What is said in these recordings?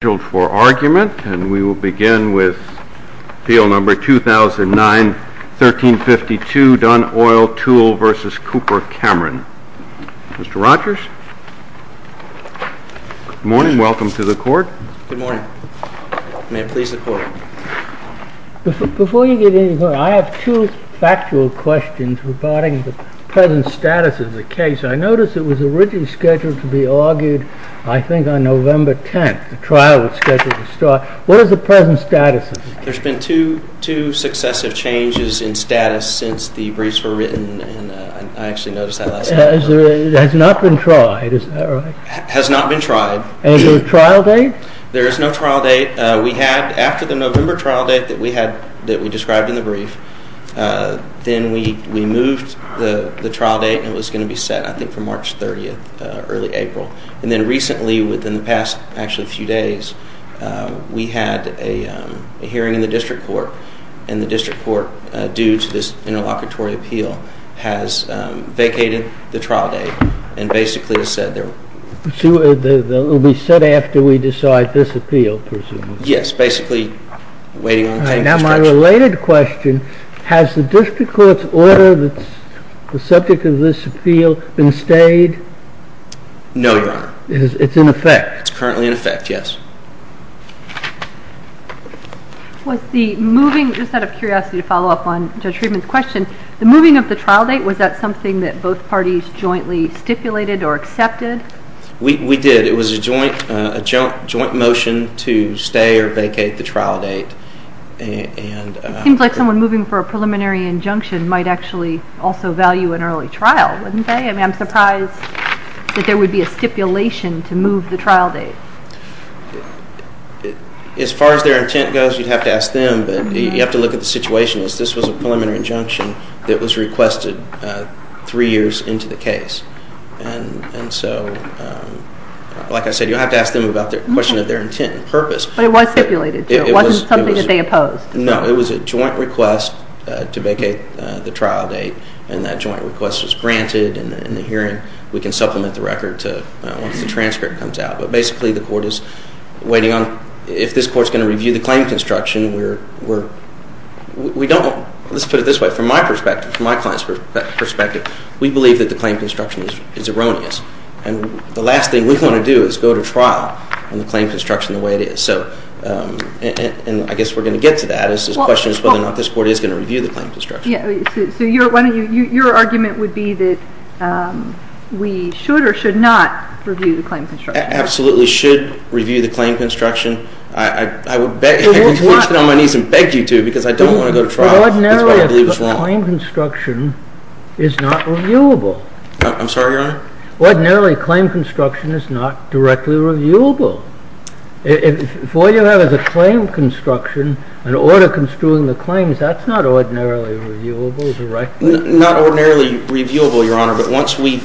I have two factual questions regarding the present status of the case. I noticed it was originally scheduled to be argued, I think, on November 10th, a trial date of November 10th, and I'm wondering if you have any comment on that. What is the present status of the case? There's been two successive changes in status since the briefs were written, and I actually noticed that last night. It has not been tried, is that right? It has not been tried. Is there a trial date? There is no trial date. We had, after the November trial date that we had, that we described in the brief, then we moved the trial date, and it was going to be set, I think, for March 30th, early April. And then recently, within the past, actually, a few days, we had a hearing in the district court, and the district court, due to this interlocutory appeal, has vacated the trial date, and basically has said that... It will be set after we decide this appeal, presumably. Yes, basically waiting on... Now, my related question, has the district court's order that's the subject of this appeal been stayed? No, Your Honor. It's in effect? It's currently in effect, yes. Just out of curiosity to follow up on Judge Friedman's question, the moving of the trial date, was that something that both parties jointly stipulated or accepted? We did. It was a joint motion to stay or vacate the trial date. It seems like someone moving for a preliminary injunction might actually also value an early trial, wouldn't they? I mean, I'm surprised that there would be a stipulation to move the trial date. As far as their intent goes, you'd have to ask them, but you have to look at the situation. This was a preliminary injunction that was requested three years into the case. And so, like I said, you'll have to ask them about the question of their intent and purpose. But it was stipulated, too. It wasn't something that they opposed. No, it was a joint request to vacate the trial date, and that joint request was granted, and in the hearing, we can supplement the record once the transcript comes out. But basically, the court is waiting on, if this court is going to review the claim construction, we're, we don't, let's put it this way, from my perspective, from my client's perspective, we believe that the claim construction is erroneous. And the last thing we want to do is go to trial on the claim construction the way it is. So, and I guess we're going to get to that. The question is whether or not this court is going to review the claim construction. So your argument would be that we should or should not review the claim construction? Absolutely should review the claim construction. I would sit on my knees and beg you to, because I don't want to go to trial. But ordinarily, a claim construction is not reviewable. I'm sorry, Your Honor? Ordinarily, a claim construction is not directly reviewable. If what you have is a claim construction, an order construing the claims, that's not ordinarily reviewable directly. Not ordinarily reviewable, Your Honor, but once we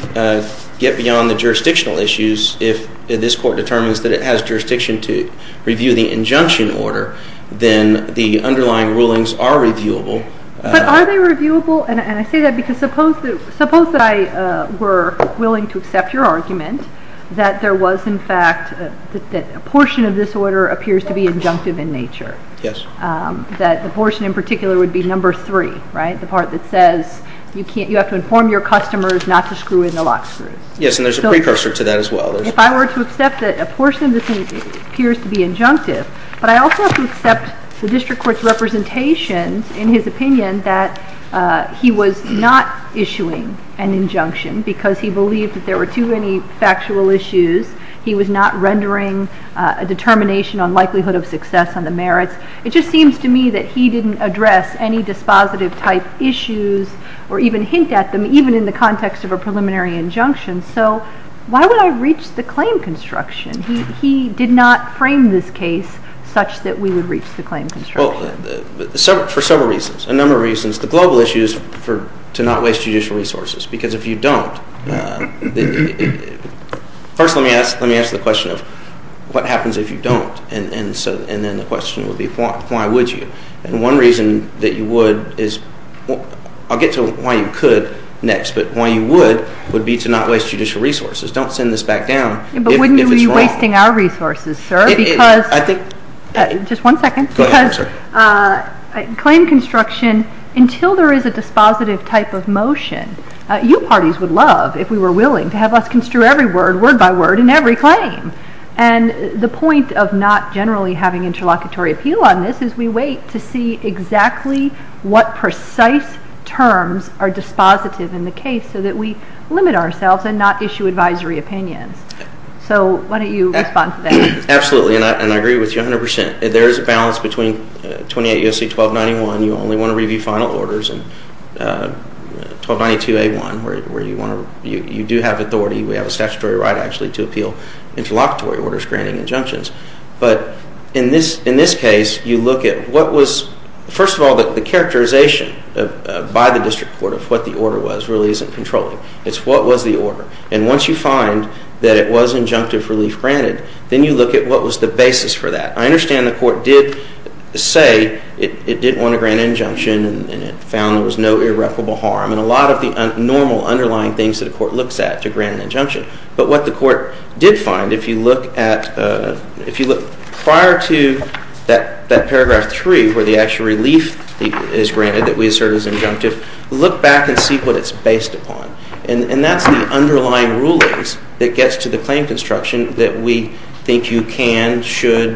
get beyond the jurisdictional issues, if this court determines that it has jurisdiction to review the injunction order, then the underlying rulings are reviewable. But are they reviewable? And I say that because suppose that I were willing to accept your argument that there was, in fact, that a portion of this order appears to be injunctive in nature. Yes. That the portion in particular would be number three, right? The part that says you have to inform your customers not to screw in the lock screws. Yes, and there's a precursor to that as well. If I were to accept that a portion of this appears to be injunctive, but I also have to accept the district court's representation in his opinion that he was not issuing an injunction because he believed that there were too many factual issues. He was not rendering a determination on likelihood of success on the merits. It just seems to me that he didn't address any dispositive type issues or even hint at them, even in the context of a preliminary injunction. So why would I reach the claim construction? He did not frame this case such that we would reach the claim construction. Well, for several reasons, a number of reasons. The global issue is to not waste judicial resources because if you don't, first let me ask the question of what happens if you don't? And then the question would be why would you? And one reason that you would is, I'll get to why you could next, but why you would would be to not waste judicial resources. Don't send this back down if it's wrong. But wouldn't you be wasting our resources, sir? I think... Just one second. Go ahead, I'm sorry. Because claim construction, until there is a dispositive type of motion, you parties would love, if we were willing, to have us construe every word, word by word, in every claim. And the point of not generally having interlocutory appeal on this is we wait to see exactly what precise terms are dispositive in the case so that we limit ourselves and not issue advisory opinions. So why don't you respond to that? Absolutely, and I agree with you 100%. There is a balance between 28 U.S.C. 1291, you only want to review final orders, and 1292A1, where you do have authority, we have a statutory right, actually, to appeal interlocutory orders granting injunctions. But in this case, you look at what was... First of all, the characterization by the district court of what the order was really isn't controlling. It's what was the order. And once you find that it was injunctive relief granted, then you look at what was the basis for that. I understand the court did say it didn't want to grant an injunction and it found there was no irreparable harm. And a lot of the normal underlying things that a court looks at to grant an injunction. But what the court did find, if you look prior to that paragraph 3 where the actual relief is granted that we assert is injunctive, look back and see what it's based upon. And that's the underlying rulings that gets to the claim construction that we think you can, should,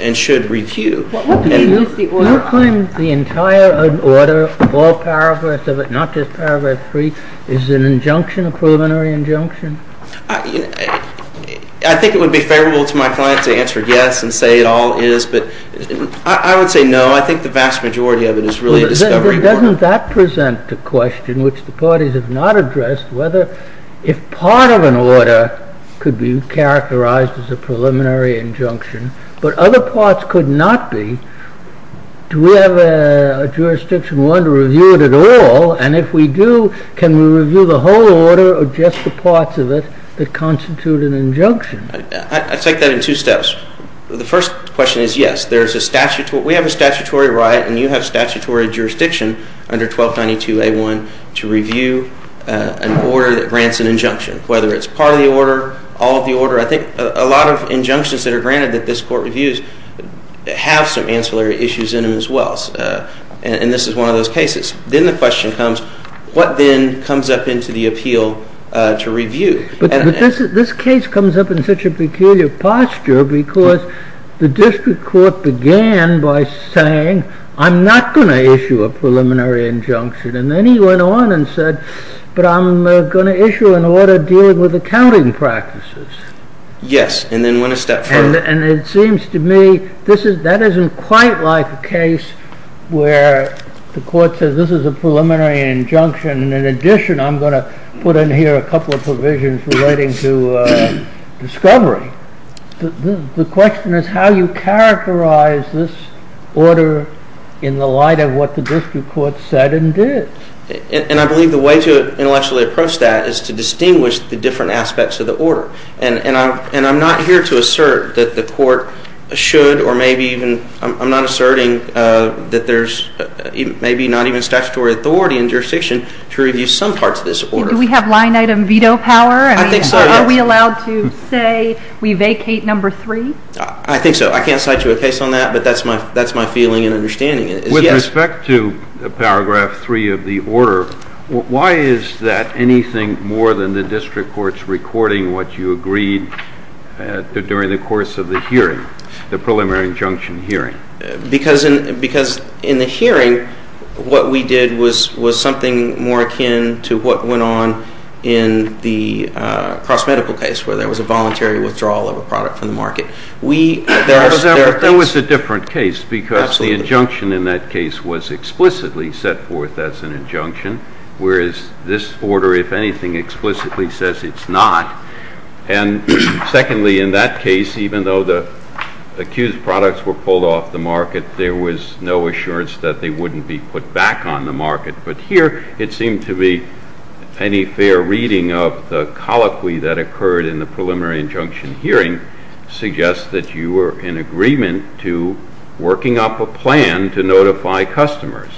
and should review. You claim the entire order, all paragraphs of it, not just paragraph 3, is an injunction, a preliminary injunction? I think it would be favorable to my client to answer yes and say it all is. But I would say no. I think the vast majority of it is really a discovery. Doesn't that present the question, which the parties have not addressed, whether if part of an order could be characterized as a preliminary injunction, but other parts could not be, do we have a jurisdiction one to review it at all? And if we do, can we review the whole order or just the parts of it that constitute an injunction? I take that in two steps. The first question is yes. We have a statutory right and you have statutory jurisdiction under 1292A1 to review an order that grants an injunction, whether it's part of the order, all of the order. I think a lot of injunctions that are granted that this court reviews have some ancillary issues in them as well. And this is one of those cases. Then the question comes, what then comes up into the appeal to review? But this case comes up in such a peculiar posture because the district court began by saying, I'm not going to issue a preliminary injunction. And then he went on and said, but I'm going to issue an order dealing with accounting practices. Yes, and then went a step further. And it seems to me that isn't quite like a case where the court says this is a preliminary injunction. In addition, I'm going to put in here a couple of provisions relating to discovery. The question is how you characterize this order in the light of what the district court said and did. And I believe the way to intellectually approach that is to distinguish the different aspects of the order. And I'm not here to assert that the court should or maybe even I'm not asserting that there's maybe not even statutory authority in jurisdiction to review some parts of this order. Do we have line item veto power? I think so, yes. Are we allowed to say we vacate number three? I think so. I can't cite you a case on that, but that's my feeling and understanding. With respect to paragraph three of the order, why is that anything more than the district court's recording what you agreed during the course of the hearing, the preliminary injunction hearing? Because in the hearing what we did was something more akin to what went on in the cross-medical case where there was a voluntary withdrawal of a product from the market. That was a different case because the injunction in that case was explicitly set forth as an injunction, whereas this order, if anything, explicitly says it's not. And secondly, in that case, even though the accused products were pulled off the market, there was no assurance that they wouldn't be put back on the market. But here it seemed to be any fair reading of the colloquy that occurred in the preliminary injunction hearing suggests that you were in agreement to working up a plan to notify customers.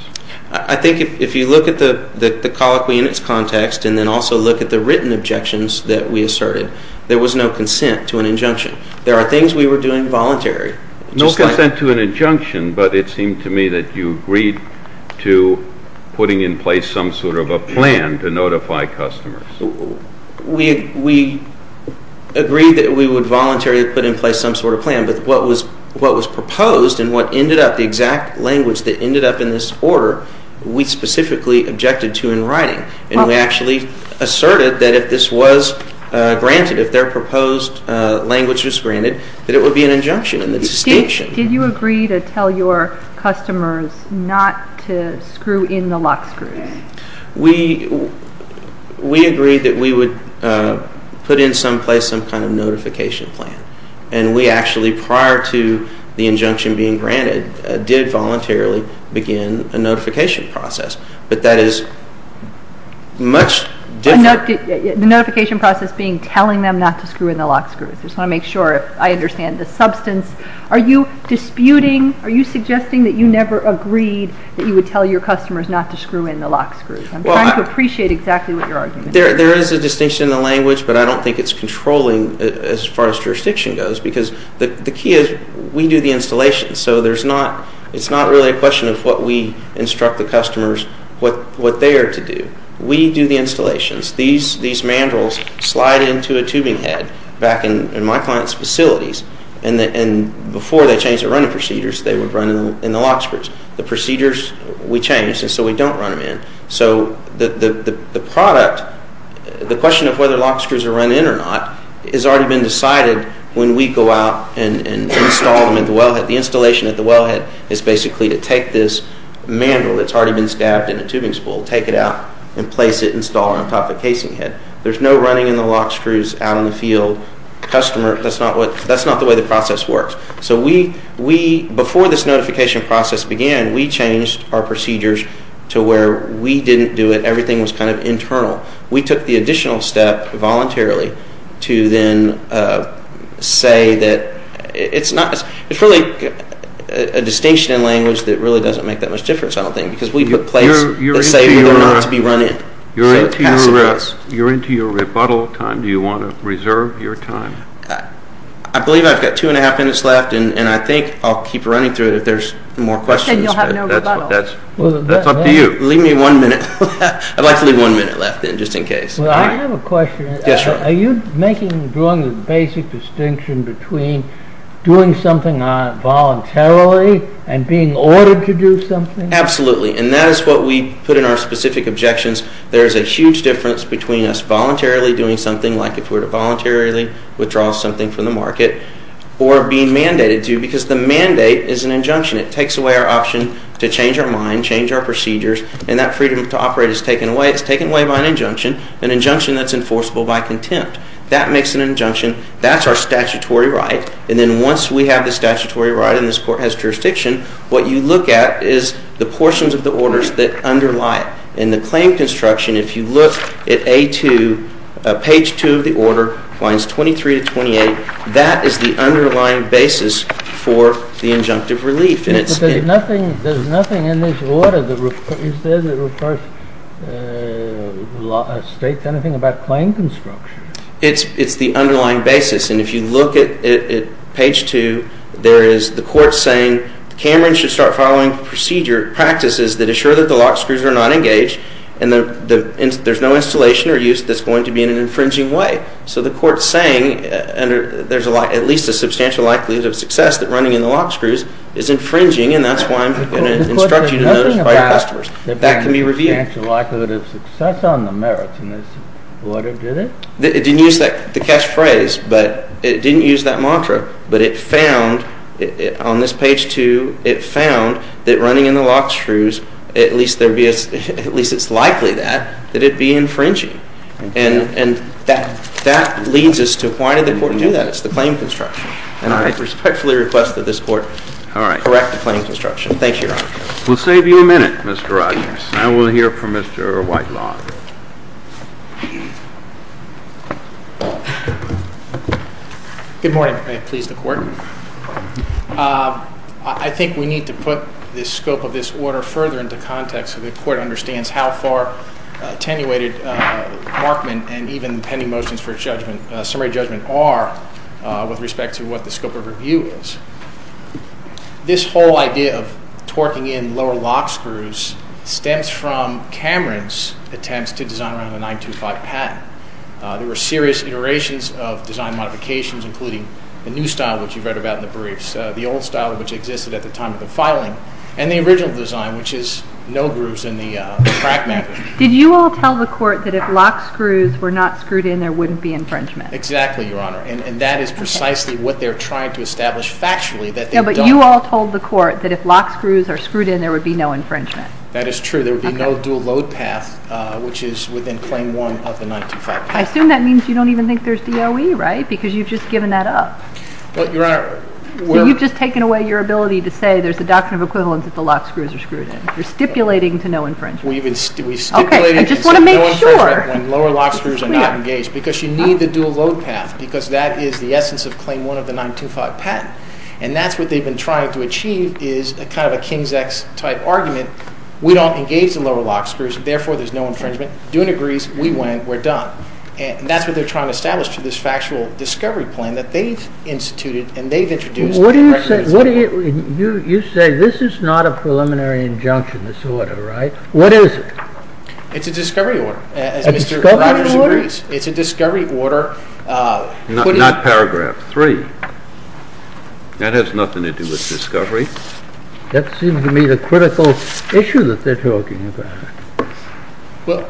I think if you look at the colloquy in its context and then also look at the written objections that we asserted, there was no consent to an injunction. There are things we were doing voluntarily. No consent to an injunction, but it seemed to me that you agreed to putting in place some sort of a plan to notify customers. We agreed that we would voluntarily put in place some sort of plan, but what was proposed and what ended up, the exact language that ended up in this order, we specifically objected to in writing. And we actually asserted that if this was granted, if their proposed language was granted, that it would be an injunction in the distinction. Did you agree to tell your customers not to screw in the lock screws? We agreed that we would put in some place some kind of notification plan, and we actually, prior to the injunction being granted, did voluntarily begin a notification process. But that is much different. The notification process being telling them not to screw in the lock screws. I just want to make sure I understand the substance. Are you disputing, are you suggesting that you never agreed that you would tell your customers not to screw in the lock screws? I'm trying to appreciate exactly what your argument is. There is a distinction in the language, but I don't think it's controlling as far as jurisdiction goes, because the key is we do the installation. So it's not really a question of what we instruct the customers, what they are to do. We do the installations. These mandrels slide into a tubing head back in my client's facilities, and before they changed the running procedures, they would run in the lock screws. The procedures we changed, and so we don't run them in. So the product, the question of whether lock screws are run in or not, has already been decided when we go out and install them at the wellhead. The installation at the wellhead is basically to take this mandrel that's already been stabbed in a tubing spool, take it out, and place it, install it on top of the casing head. There's no running in the lock screws out in the field. That's not the way the process works. So before this notification process began, we changed our procedures to where we didn't do it. Everything was kind of internal. We took the additional step voluntarily to then say that it's really a distinction in language that really doesn't make that much difference, I don't think, because we put plates that say whether or not to be run in. You're into your rebuttal time. Do you want to reserve your time? I believe I've got two and a half minutes left, and I think I'll keep running through it if there's more questions. Then you'll have no rebuttal. That's up to you. Leave me one minute. I'd like to leave one minute left then, just in case. I have a question. Yes, sir. Are you making, drawing the basic distinction between doing something voluntarily and being ordered to do something? Absolutely, and that is what we put in our specific objections. There is a huge difference between us voluntarily doing something, like if we were to voluntarily withdraw something from the market, or being mandated to because the mandate is an injunction. It takes away our option to change our mind, change our procedures, and that freedom to operate is taken away. It's taken away by an injunction, an injunction that's enforceable by contempt. That makes an injunction. That's our statutory right. And then once we have the statutory right and this court has jurisdiction, what you look at is the portions of the orders that underlie it. In the claim construction, if you look at A2, page 2 of the order, lines 23 to 28, that is the underlying basis for the injunctive relief. But there's nothing in this order that states anything about claim construction. It's the underlying basis. And if you look at page 2, there is the court saying, Cameron should start following procedure practices that assure that the lock screws are not engaged and there's no installation or use that's going to be in an infringing way. So the court's saying there's at least a substantial likelihood of success that running in the lock screws is infringing, and that's why I'm going to instruct you to notify your customers. That can be revealed. There's a substantial likelihood of success on the merits in this order, did it? It didn't use the catchphrase, but it didn't use that mantra. But it found, on this page 2, it found that running in the lock screws, at least it's likely that, that it'd be infringing. And that leads us to why did the court do that? It's the claim construction. And I respectfully request that this court correct the claim construction. Thank you, Your Honor. We'll save you a minute, Mr. Rogers. Now we'll hear from Mr. Whitelaw. Good morning. May it please the court. I think we need to put the scope of this order further into context so the court understands how far attenuated Markman and even pending motions for summary judgment are with respect to what the scope of review is. This whole idea of torquing in lower lock screws stems from Cameron's attempts to design around the 925 patent. There were serious iterations of design modifications, including the new style, which you've read about in the briefs, the old style, which existed at the time of the filing, and the original design, which is no grooves in the crack magnet. Did you all tell the court that if lock screws were not screwed in, there wouldn't be infringement? Exactly, Your Honor. And that is precisely what they're trying to establish factually. No, but you all told the court that if lock screws are screwed in, there would be no infringement. That is true. There would be no dual load path, which is within Claim 1 of the 925 patent. I assume that means you don't even think there's DOE, right? Because you've just given that up. You've just taken away your ability to say there's a doctrine of equivalence if the lock screws are screwed in. You're stipulating to no infringement. We stipulated to no infringement when lower lock screws are not engaged because you need the dual load path because that is the essence of Claim 1 of the 925 patent. And that's what they've been trying to achieve is kind of a King's X type argument. We don't engage the lower lock screws, therefore there's no infringement. Doon agrees. We win. We're done. And that's what they're trying to establish through this factual discovery plan that they've instituted and they've introduced. You say this is not a preliminary injunction, this order, right? What is it? It's a discovery order, as Mr. Rogers agrees. A discovery order? It's a discovery order. Not paragraph 3. That has nothing to do with discovery. That seems to me the critical issue that they're talking about. Well,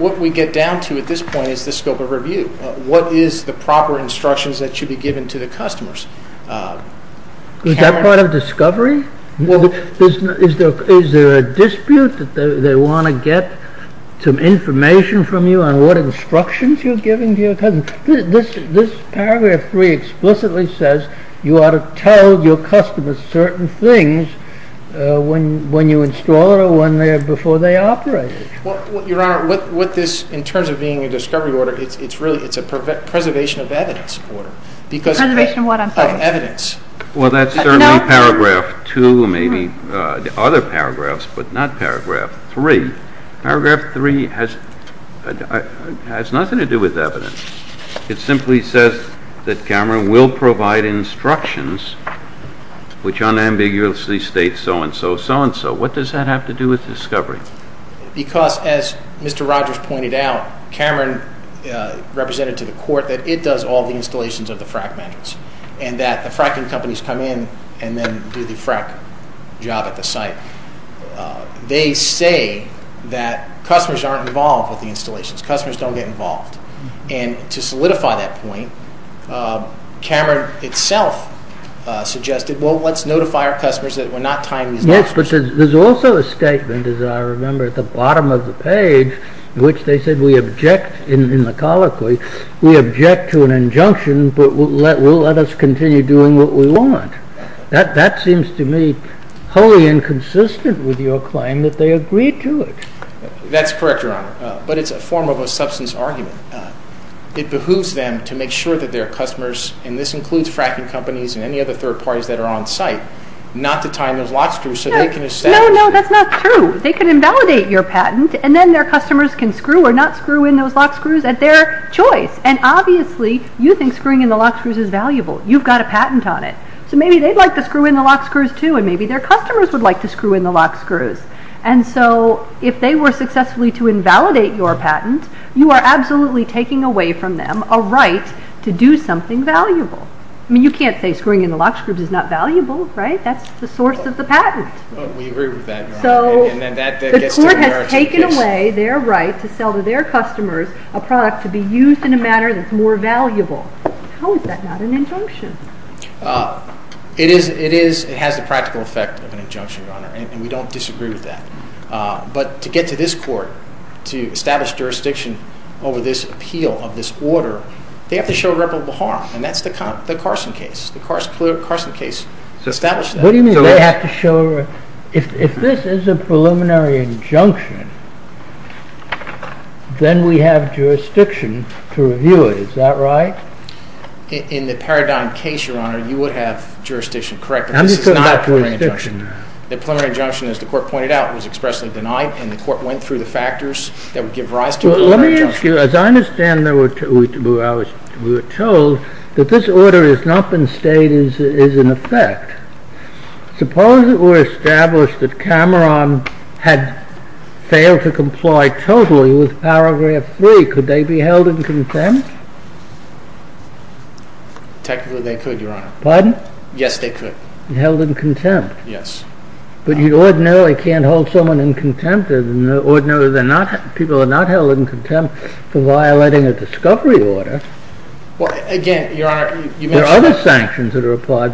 what we get down to at this point is the scope of review. What is the proper instructions that should be given to the customers? Is that part of discovery? Is there a dispute that they want to get some information from you on what instructions you're giving to your customers? This paragraph 3 explicitly says you ought to tell your customers certain things when you install it or before they operate it. Your Honor, in terms of being a discovery order, it's really a preservation of evidence order. Preservation of what, I'm sorry? Evidence. Well, that's certainly paragraph 2, maybe other paragraphs, but not paragraph 3. Paragraph 3 has nothing to do with evidence. It simply says that Cameron will provide instructions which unambiguously state so-and-so, so-and-so. What does that have to do with discovery? Because, as Mr. Rogers pointed out, Cameron represented to the court that it does all the installations of the frack vendors and that the fracking companies come in and then do the frack job at the site. They say that customers aren't involved with the installations. Customers don't get involved. And to solidify that point, Cameron itself suggested, well, let's notify our customers that we're not tying these up. Yes, but there's also a statement, as I remember, at the bottom of the page in which they said we object, in the colloquy, we object to an injunction but will let us continue doing what we want. That seems to me wholly inconsistent with your claim that they agreed to it. That's correct, Your Honor. But it's a form of a substance argument. It behooves them to make sure that their customers, and this includes fracking companies and any other third parties that are on site, not to tie in those lock screws so they can establish. No, no, that's not true. They can invalidate your patent and then their customers can screw or not screw in those lock screws at their choice. And obviously you think screwing in the lock screws is valuable. You've got a patent on it. So maybe they'd like to screw in the lock screws, too, and maybe their customers would like to screw in the lock screws. And so if they were successfully to invalidate your patent, you are absolutely taking away from them a right to do something valuable. I mean, you can't say screwing in the lock screws is not valuable, right? That's the source of the patent. We agree with that, Your Honor. So the court has taken away their right to sell to their customers a product to be used in a manner that's more valuable. How is that not an injunction? It has the practical effect of an injunction, Your Honor, and we don't disagree with that. But to get to this court to establish jurisdiction over this appeal of this order, they have to show reputable harm, and that's the Carson case. The Carson case established that. What do you mean they have to show? If this is a preliminary injunction, then we have jurisdiction to review it. Is that right? In the Paradigm case, Your Honor, you would have jurisdiction, correct? But this is not a preliminary injunction. The preliminary injunction, as the court pointed out, was expressly denied, and the court went through the factors that would give rise to a preliminary injunction. Let me ask you, as I understand, we were told that this order has not been stated as in effect. Suppose it were established that Cameron had failed to comply totally with Paragraph 3. Could they be held in contempt? Technically, they could, Your Honor. Pardon? Yes, they could. Held in contempt. Yes. But you ordinarily can't hold someone in contempt, ordinarily people are not held in contempt for violating a discovery order. Again, Your Honor, There are other sanctions that are applied.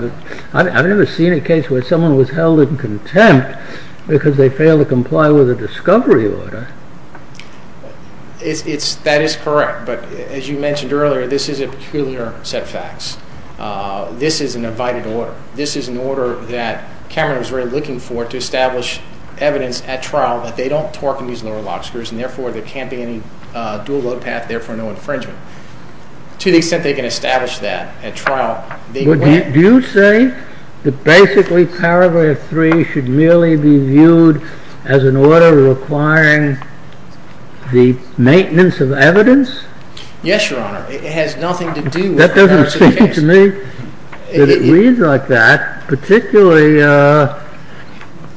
I've never seen a case where someone was held in contempt because they failed to comply with a discovery order. That is correct. But as you mentioned earlier, this is a peculiar set of facts. This is an abided order. This is an order that Cameron was really looking for to establish evidence at trial that they don't torque and use lower lock screws, and therefore there can't be any dual load path, therefore no infringement. To the extent they can establish that at trial, they went Do you say that basically Paragraph 3 should merely be viewed as an order requiring the maintenance of evidence? Yes, Your Honor. It has nothing to do with the rest of the case. That doesn't seem to me that it reads like that, particularly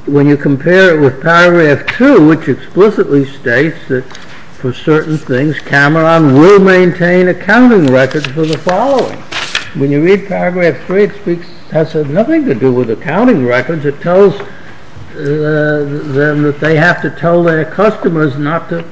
when you compare it with Paragraph 2, which explicitly states that, for certain things, Cameron will maintain accounting records for the following. When you read Paragraph 3, it has nothing to do with accounting records. It tells them that they have to tell their customers not to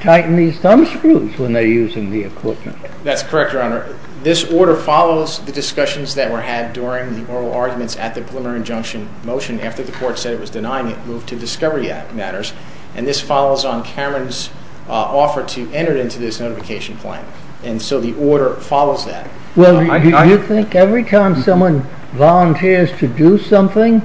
tighten these thumbscrews when they're using the equipment. That's correct, Your Honor. This order follows the discussions that were had during the oral arguments at the preliminary injunction motion. After the court said it was denying it, it moved to discovery matters, and this follows on Cameron's offer to enter it into this notification plan. And so the order follows that. Well, do you think every time someone volunteers to do something,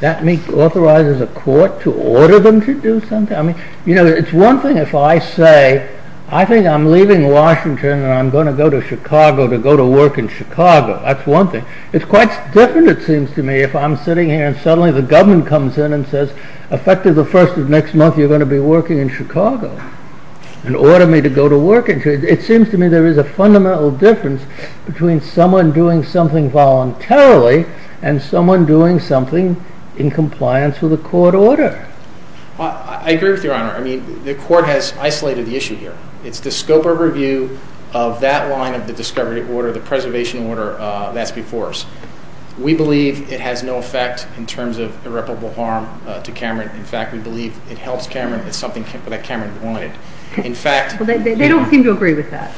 that authorizes a court to order them to do something? You know, it's one thing if I say, I think I'm leaving Washington and I'm going to go to Chicago to go to work in Chicago. That's one thing. It's quite different, it seems to me, if I'm sitting here and suddenly the government comes in and says, effective the first of next month you're going to be working in Chicago, and order me to go to work in Chicago. It seems to me there is a fundamental difference between someone doing something voluntarily and someone doing something in compliance with a court order. I agree with you, Your Honor. I mean, the court has isolated the issue here. It's the scope of review of that line of the discovery order, the preservation order that's before us. We believe it has no effect in terms of irreparable harm to Cameron. In fact, we believe it helps Cameron. It's something that Cameron wanted. Well, they don't seem to agree with that.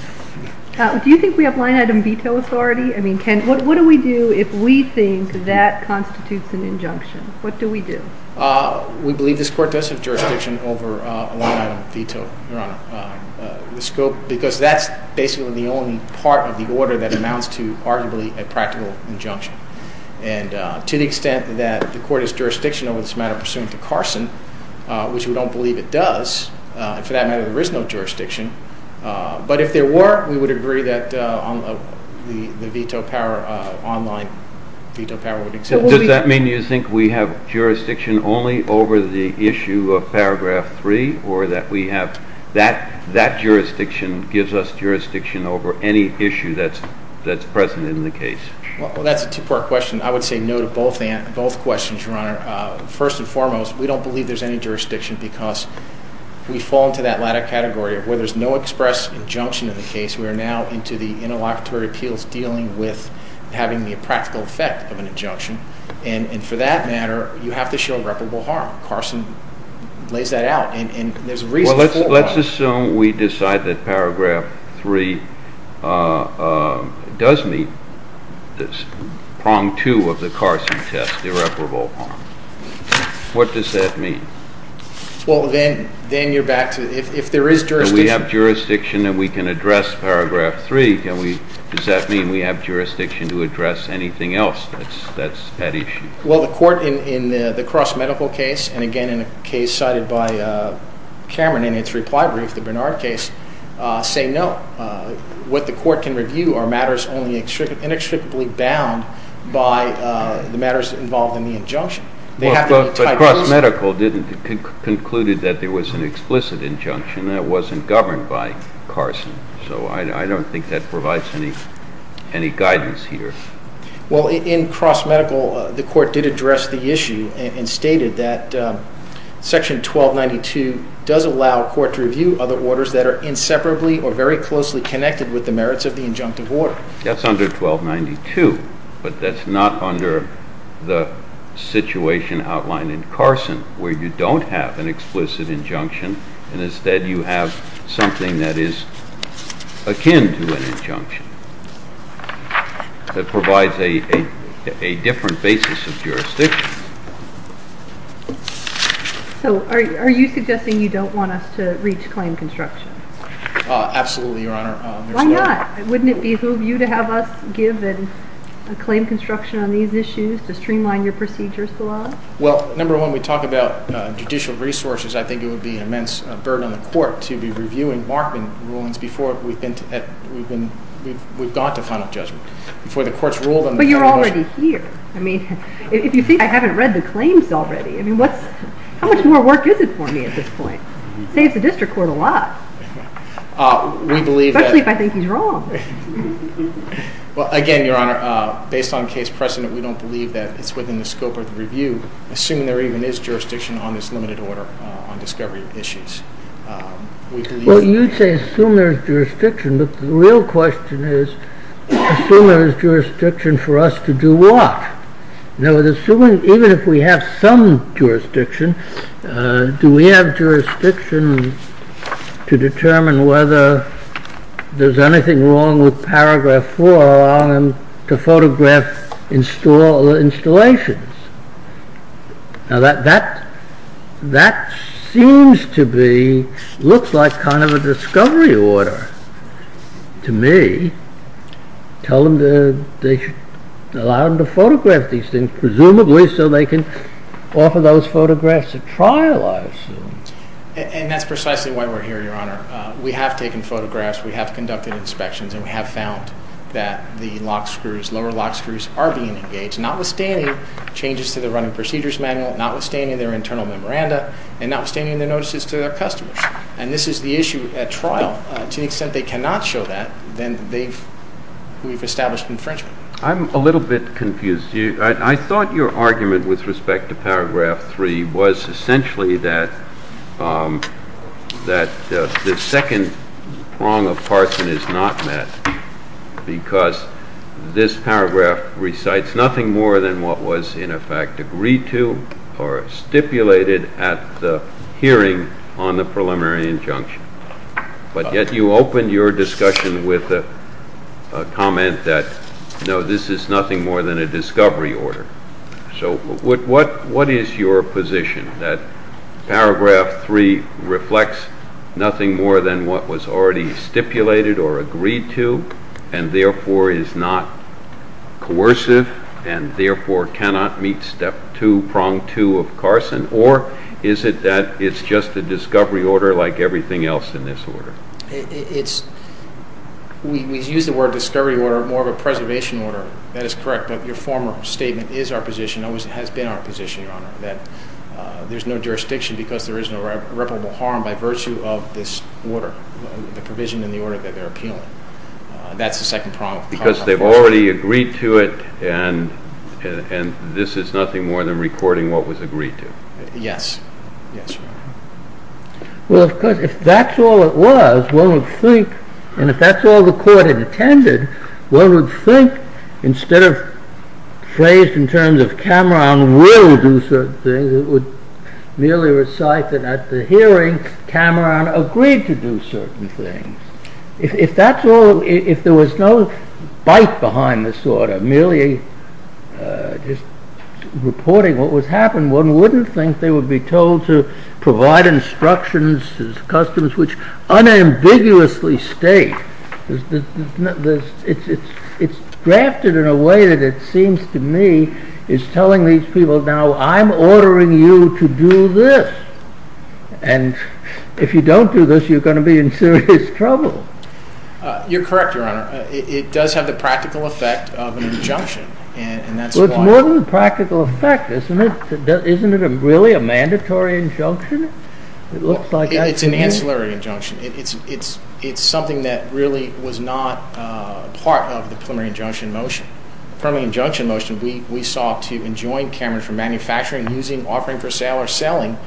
Do you think we have line item veto authority? I mean, what do we do if we think that constitutes an injunction? What do we do? We believe this court does have jurisdiction over a line item veto, Your Honor, because that's basically the only part of the order that amounts to arguably a practical injunction. And to the extent that the court has jurisdiction over this matter pursuant to Carson, which we don't believe it does, for that matter there is no jurisdiction, but if there were, we would agree that the veto power online veto power would exist. Does that mean you think we have jurisdiction only over the issue of paragraph 3, or that we have that jurisdiction gives us jurisdiction over any issue that's present in the case? Well, that's a two-part question. I would say no to both questions, Your Honor. First and foremost, we don't believe there's any jurisdiction because we fall into that latter category where there's no express injunction in the case. We are now into the interlocutory appeals dealing with having the practical effect of an injunction. And for that matter, you have to show irreparable harm. Carson lays that out, and there's a reason for it. Let's assume we decide that paragraph 3 does meet prong 2 of the Carson test, irreparable harm. What does that mean? Well, then you're back to if there is jurisdiction. Do we have jurisdiction and we can address paragraph 3? Does that mean we have jurisdiction to address anything else that's at issue? Well, the court in the Cross Medical case, and again in a case cited by Cameron in its reply brief, the Bernard case, say no. What the court can review are matters only inextricably bound by the matters involved in the injunction. But Cross Medical concluded that there was an explicit injunction that wasn't governed by Carson, so I don't think that provides any guidance here. Well, in Cross Medical, the court did address the issue and stated that section 1292 does allow court to review other orders that are inseparably or very closely connected with the merits of the injunctive order. That's under 1292, but that's not under the situation outlined in Carson where you don't have an explicit injunction, and instead you have something that is akin to an injunction. That provides a different basis of jurisdiction. So are you suggesting you don't want us to reach claim construction? Absolutely, Your Honor. Why not? Wouldn't it behoove you to have us give a claim construction on these issues to streamline your procedures to us? Well, number one, we talk about judicial resources. I think it would be an immense burden on the court to be reviewing Markman rulings before we've gone to final judgment, before the court's ruled on the motion. But you're already here. If you think I haven't read the claims already, how much more work is it for me at this point? It saves the district court a lot, especially if I think he's wrong. Again, Your Honor, based on case precedent, we don't believe that it's within the scope of the review, assuming there even is jurisdiction on this limited order on discovery issues. Well, you'd say assume there's jurisdiction, but the real question is, assume there's jurisdiction for us to do what? Now, even if we have some jurisdiction, do we have jurisdiction to determine whether there's anything wrong with paragraph 4 on the photograph installations? Now, that seems to be, looks like kind of a discovery order to me. Tell them they should allow them to photograph these things, presumably so they can offer those photographs at trial, I assume. And that's precisely why we're here, Your Honor. We have taken photographs, we have conducted inspections, and we have found that the lower lock screws are being engaged, notwithstanding changes to the running procedures manual, notwithstanding their internal memoranda, and notwithstanding their notices to their customers. And this is the issue at trial. To the extent they cannot show that, then we've established infringement. I'm a little bit confused. I thought your argument with respect to paragraph 3 was essentially that the second prong of Parson is not met because this paragraph recites nothing more than what was in effect agreed to or stipulated at the hearing on the preliminary injunction. But yet you opened your discussion with a comment that, no, this is nothing more than a discovery order. So what is your position, that paragraph 3 reflects nothing more than what was already stipulated or agreed to and therefore is not coercive and therefore cannot meet step 2, prong 2 of Carson, or is it that it's just a discovery order like everything else in this order? We use the word discovery order more of a preservation order. That is correct, but your former statement is our position, always has been our position, Your Honor, that there's no jurisdiction because there is no reputable harm by virtue of this order, the provision in the order that they're appealing. That's the second prong of Carson. Because they've already agreed to it and this is nothing more than recording what was agreed to. Yes. Yes, Your Honor. Well, of course, if that's all it was, one would think, and if that's all the court had attended, one would think, instead of phrased in terms of Cameron will do certain things, it would merely recite that at the hearing Cameron agreed to do certain things. If there was no bite behind this order, merely reporting what was happening, one wouldn't think they would be told to provide instructions to customers which unambiguously state it's drafted in a way that it seems to me is telling these people, now I'm ordering you to do this, and if you don't do this, you're going to be in serious trouble. You're correct, Your Honor. It does have the practical effect of an injunction. Well, it's more than a practical effect, isn't it? Isn't it really a mandatory injunction? It's an ancillary injunction. It's something that really was not part of the preliminary injunction motion. The preliminary injunction motion we sought to enjoin Cameron from manufacturing, using, offering for sale, or selling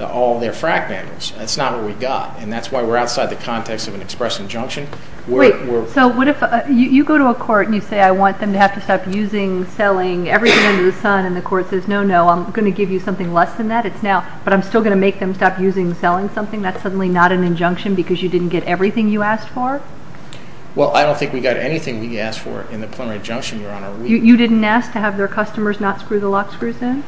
all their frack vandals. That's not what we got, and that's why we're outside the context of an express injunction. Wait, so what if you go to a court and you say, I want them to have to stop using, selling, everything under the sun, and the court says, no, no, I'm going to give you something less than that, it's now, but I'm still going to make them stop using, selling something, that's suddenly not an injunction because you didn't get everything you asked for? Well, I don't think we got anything we asked for in the preliminary injunction, Your Honor. You didn't ask to have their customers not screw the lock screws in?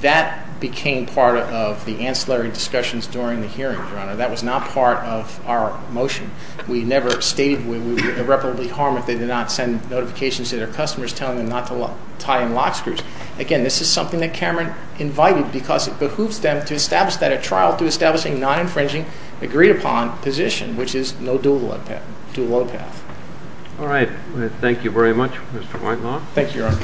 That became part of the ancillary discussions during the hearing, Your Honor. That was not part of our motion. We never stated we would irreparably harm if they did not send notifications to their customers telling them not to tie in lock screws. Again, this is something that Cameron invited, because it behooves them to establish that at trial through establishing a non-infringing, agreed-upon position, which is no dual-load path. All right. Thank you very much, Mr. Whitelaw. Thank you, Your Honor.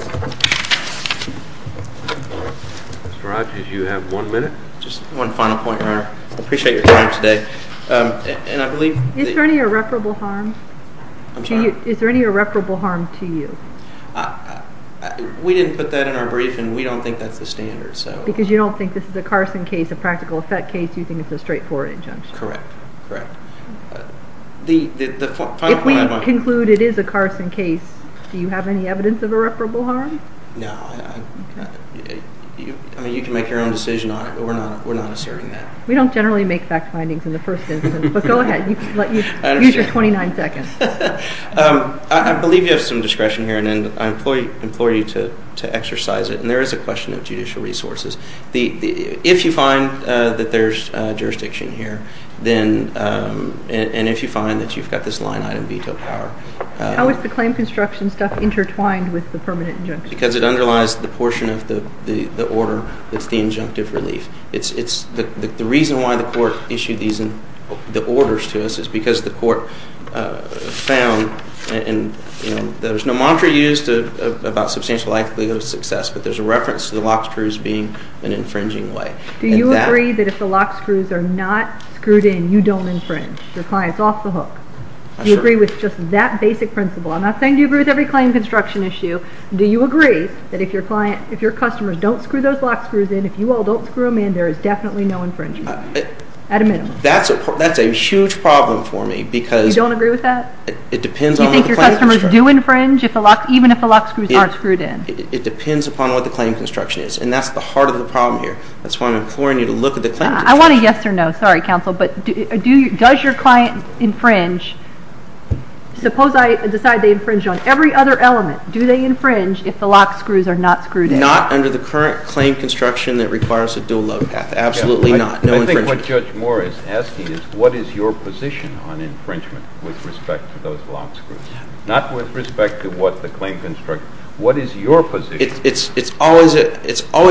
Mr. Rodgers, you have one minute. Just one final point, Your Honor. I appreciate your time today. Is there any irreparable harm to you? We didn't put that in our brief, and we don't think that's the standard. Because you don't think this is a Carson case, a practical effect case? You think it's a straightforward injunction? Correct. Correct. If we conclude it is a Carson case, do you have any evidence of irreparable harm? No. I mean, you can make your own decision on it, but we're not asserting that. We don't generally make fact findings in the first instance. But go ahead. Use your 29 seconds. I believe you have some discretion here, and I implore you to exercise it. And there is a question of judicial resources. If you find that there's jurisdiction here, and if you find that you've got this line-item veto power. How is the claim construction stuff intertwined with the permanent injunction? Because it underlies the portion of the order that's the injunctive relief. The reason why the court issued the orders to us is because the court found that there's no mantra used about substantial likelihood of success, but there's a reference to the lock screws being an infringing way. Do you agree that if the lock screws are not screwed in, you don't infringe? Your client's off the hook? Do you agree with just that basic principle? I'm not saying do you agree with every claim construction issue. Do you agree that if your customers don't screw those lock screws in, if you all don't screw them in, there is definitely no infringement, at a minimum? That's a huge problem for me because— You don't agree with that? Do you think your customers do infringe even if the lock screws aren't screwed in? It depends upon what the claim construction is, and that's the heart of the problem here. That's why I'm imploring you to look at the claim construction. I want a yes or no. Sorry, counsel. But does your client infringe? Suppose I decide they infringe on every other element. Do they infringe if the lock screws are not screwed in? Not under the current claim construction that requires a dual load path. Absolutely not. No infringement. I think what Judge Moore is asking is what is your position on infringement with respect to those lock screws? Not with respect to what the claim construction—what is your position? It's always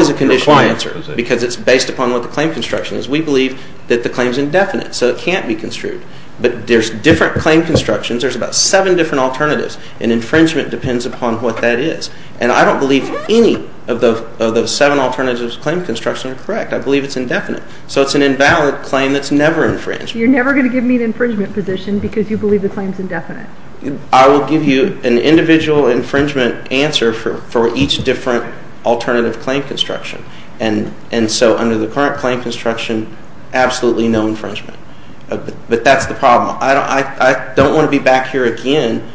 a conditional answer because it's based upon what the claim construction is. We believe that the claim is indefinite, so it can't be construed. But there's different claim constructions. There's about seven different alternatives, and infringement depends upon what that is. And I don't believe any of those seven alternatives to claim construction are correct. I believe it's indefinite. So it's an invalid claim that's never infringed. You're never going to give me an infringement position because you believe the claim is indefinite? I will give you an individual infringement answer for each different alternative claim construction. And so under the current claim construction, absolutely no infringement. But that's the problem. I don't want to be back here again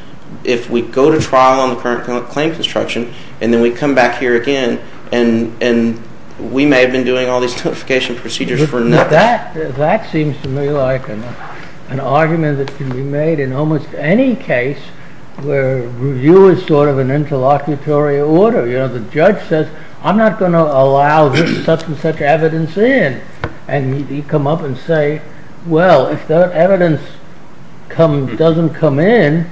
if we go to trial on the current claim construction, and then we come back here again, and we may have been doing all these notification procedures for nothing. That seems to me like an argument that can be made in almost any case where review is sort of an interlocutory order. You know, the judge says, I'm not going to allow this substance such as evidence in. And you come up and say, well, if that evidence doesn't come in,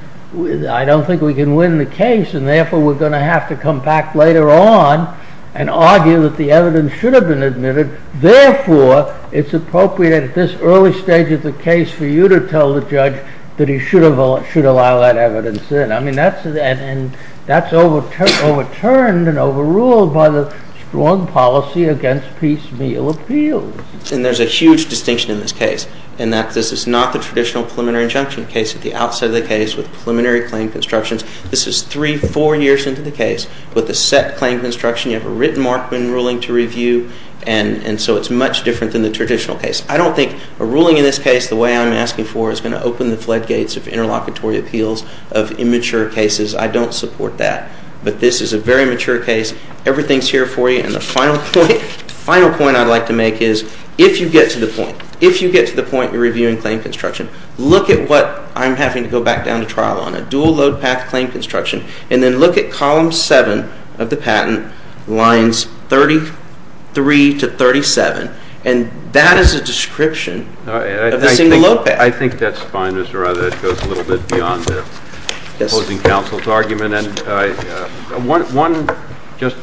I don't think we can win the case, and therefore we're going to have to come back later on and argue that the evidence should have been admitted. Therefore, it's appropriate at this early stage of the case for you to tell the judge that he should allow that evidence in. I mean, that's overturned and overruled by the strong policy against piecemeal appeals. And there's a huge distinction in this case in that this is not the traditional preliminary injunction case at the outset of the case with preliminary claim constructions. This is three, four years into the case with a set claim construction. You have a written Markman ruling to review, and so it's much different than the traditional case. I don't think a ruling in this case, the way I'm asking for, is going to open the floodgates of interlocutory appeals of immature cases. I don't support that. But this is a very mature case. Everything's here for you. And the final point I'd like to make is, if you get to the point, if you get to the point you're reviewing claim construction, look at what I'm having to go back down to trial on, a dual load path claim construction, and then look at column seven of the patent, lines 33 to 37, and that is a description of the single load path. I think that's fine, Mr. Rather. That goes a little bit beyond the opposing counsel's argument. And one just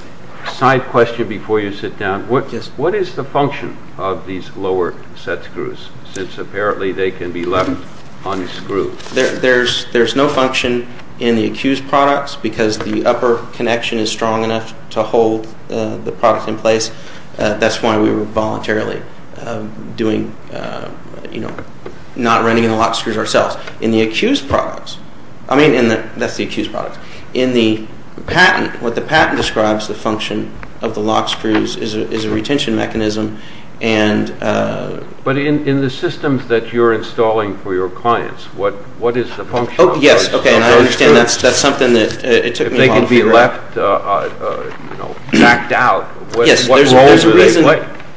side question before you sit down. What is the function of these lower set screws since apparently they can be left unscrewed? There's no function in the accused products because the upper connection is strong enough to hold the product in place. That's why we were voluntarily doing, you know, not running in the lock screws ourselves. In the accused products, I mean, that's the accused products. In the patent, what the patent describes, the function of the lock screws is a retention mechanism. But in the systems that you're installing for your clients, what is the function? Oh, yes, okay, and I understand that's something that it took me a while to figure out. They're left, you know, backed out. Yes, there's a reason.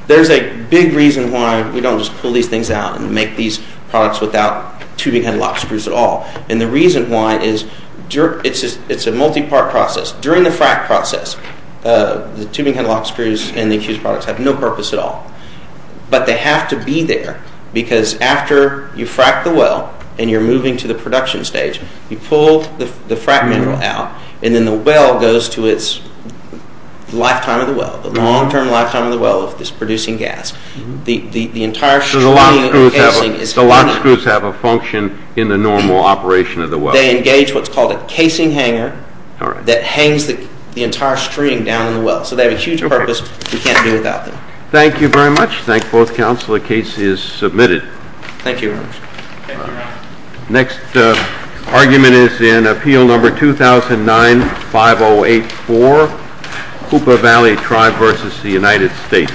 There's a big reason why we don't just pull these things out and make these products without tubing head lock screws at all. And the reason why is it's a multi-part process. During the frack process, the tubing head lock screws and the accused products have no purpose at all. But they have to be there because after you frack the well and you're moving to the production stage, you pull the frack mineral out, and then the well goes to its lifetime of the well, the long-term lifetime of the well of this producing gas. The entire string of casing is hanging. So the lock screws have a function in the normal operation of the well. They engage what's called a casing hanger that hangs the entire string down in the well. So they have a huge purpose we can't do without them. Thank you very much. Thank both counsel. The case is submitted. Thank you. Next argument is in Appeal Number 2009-5084, Hoopa Valley Tribe v. The United States.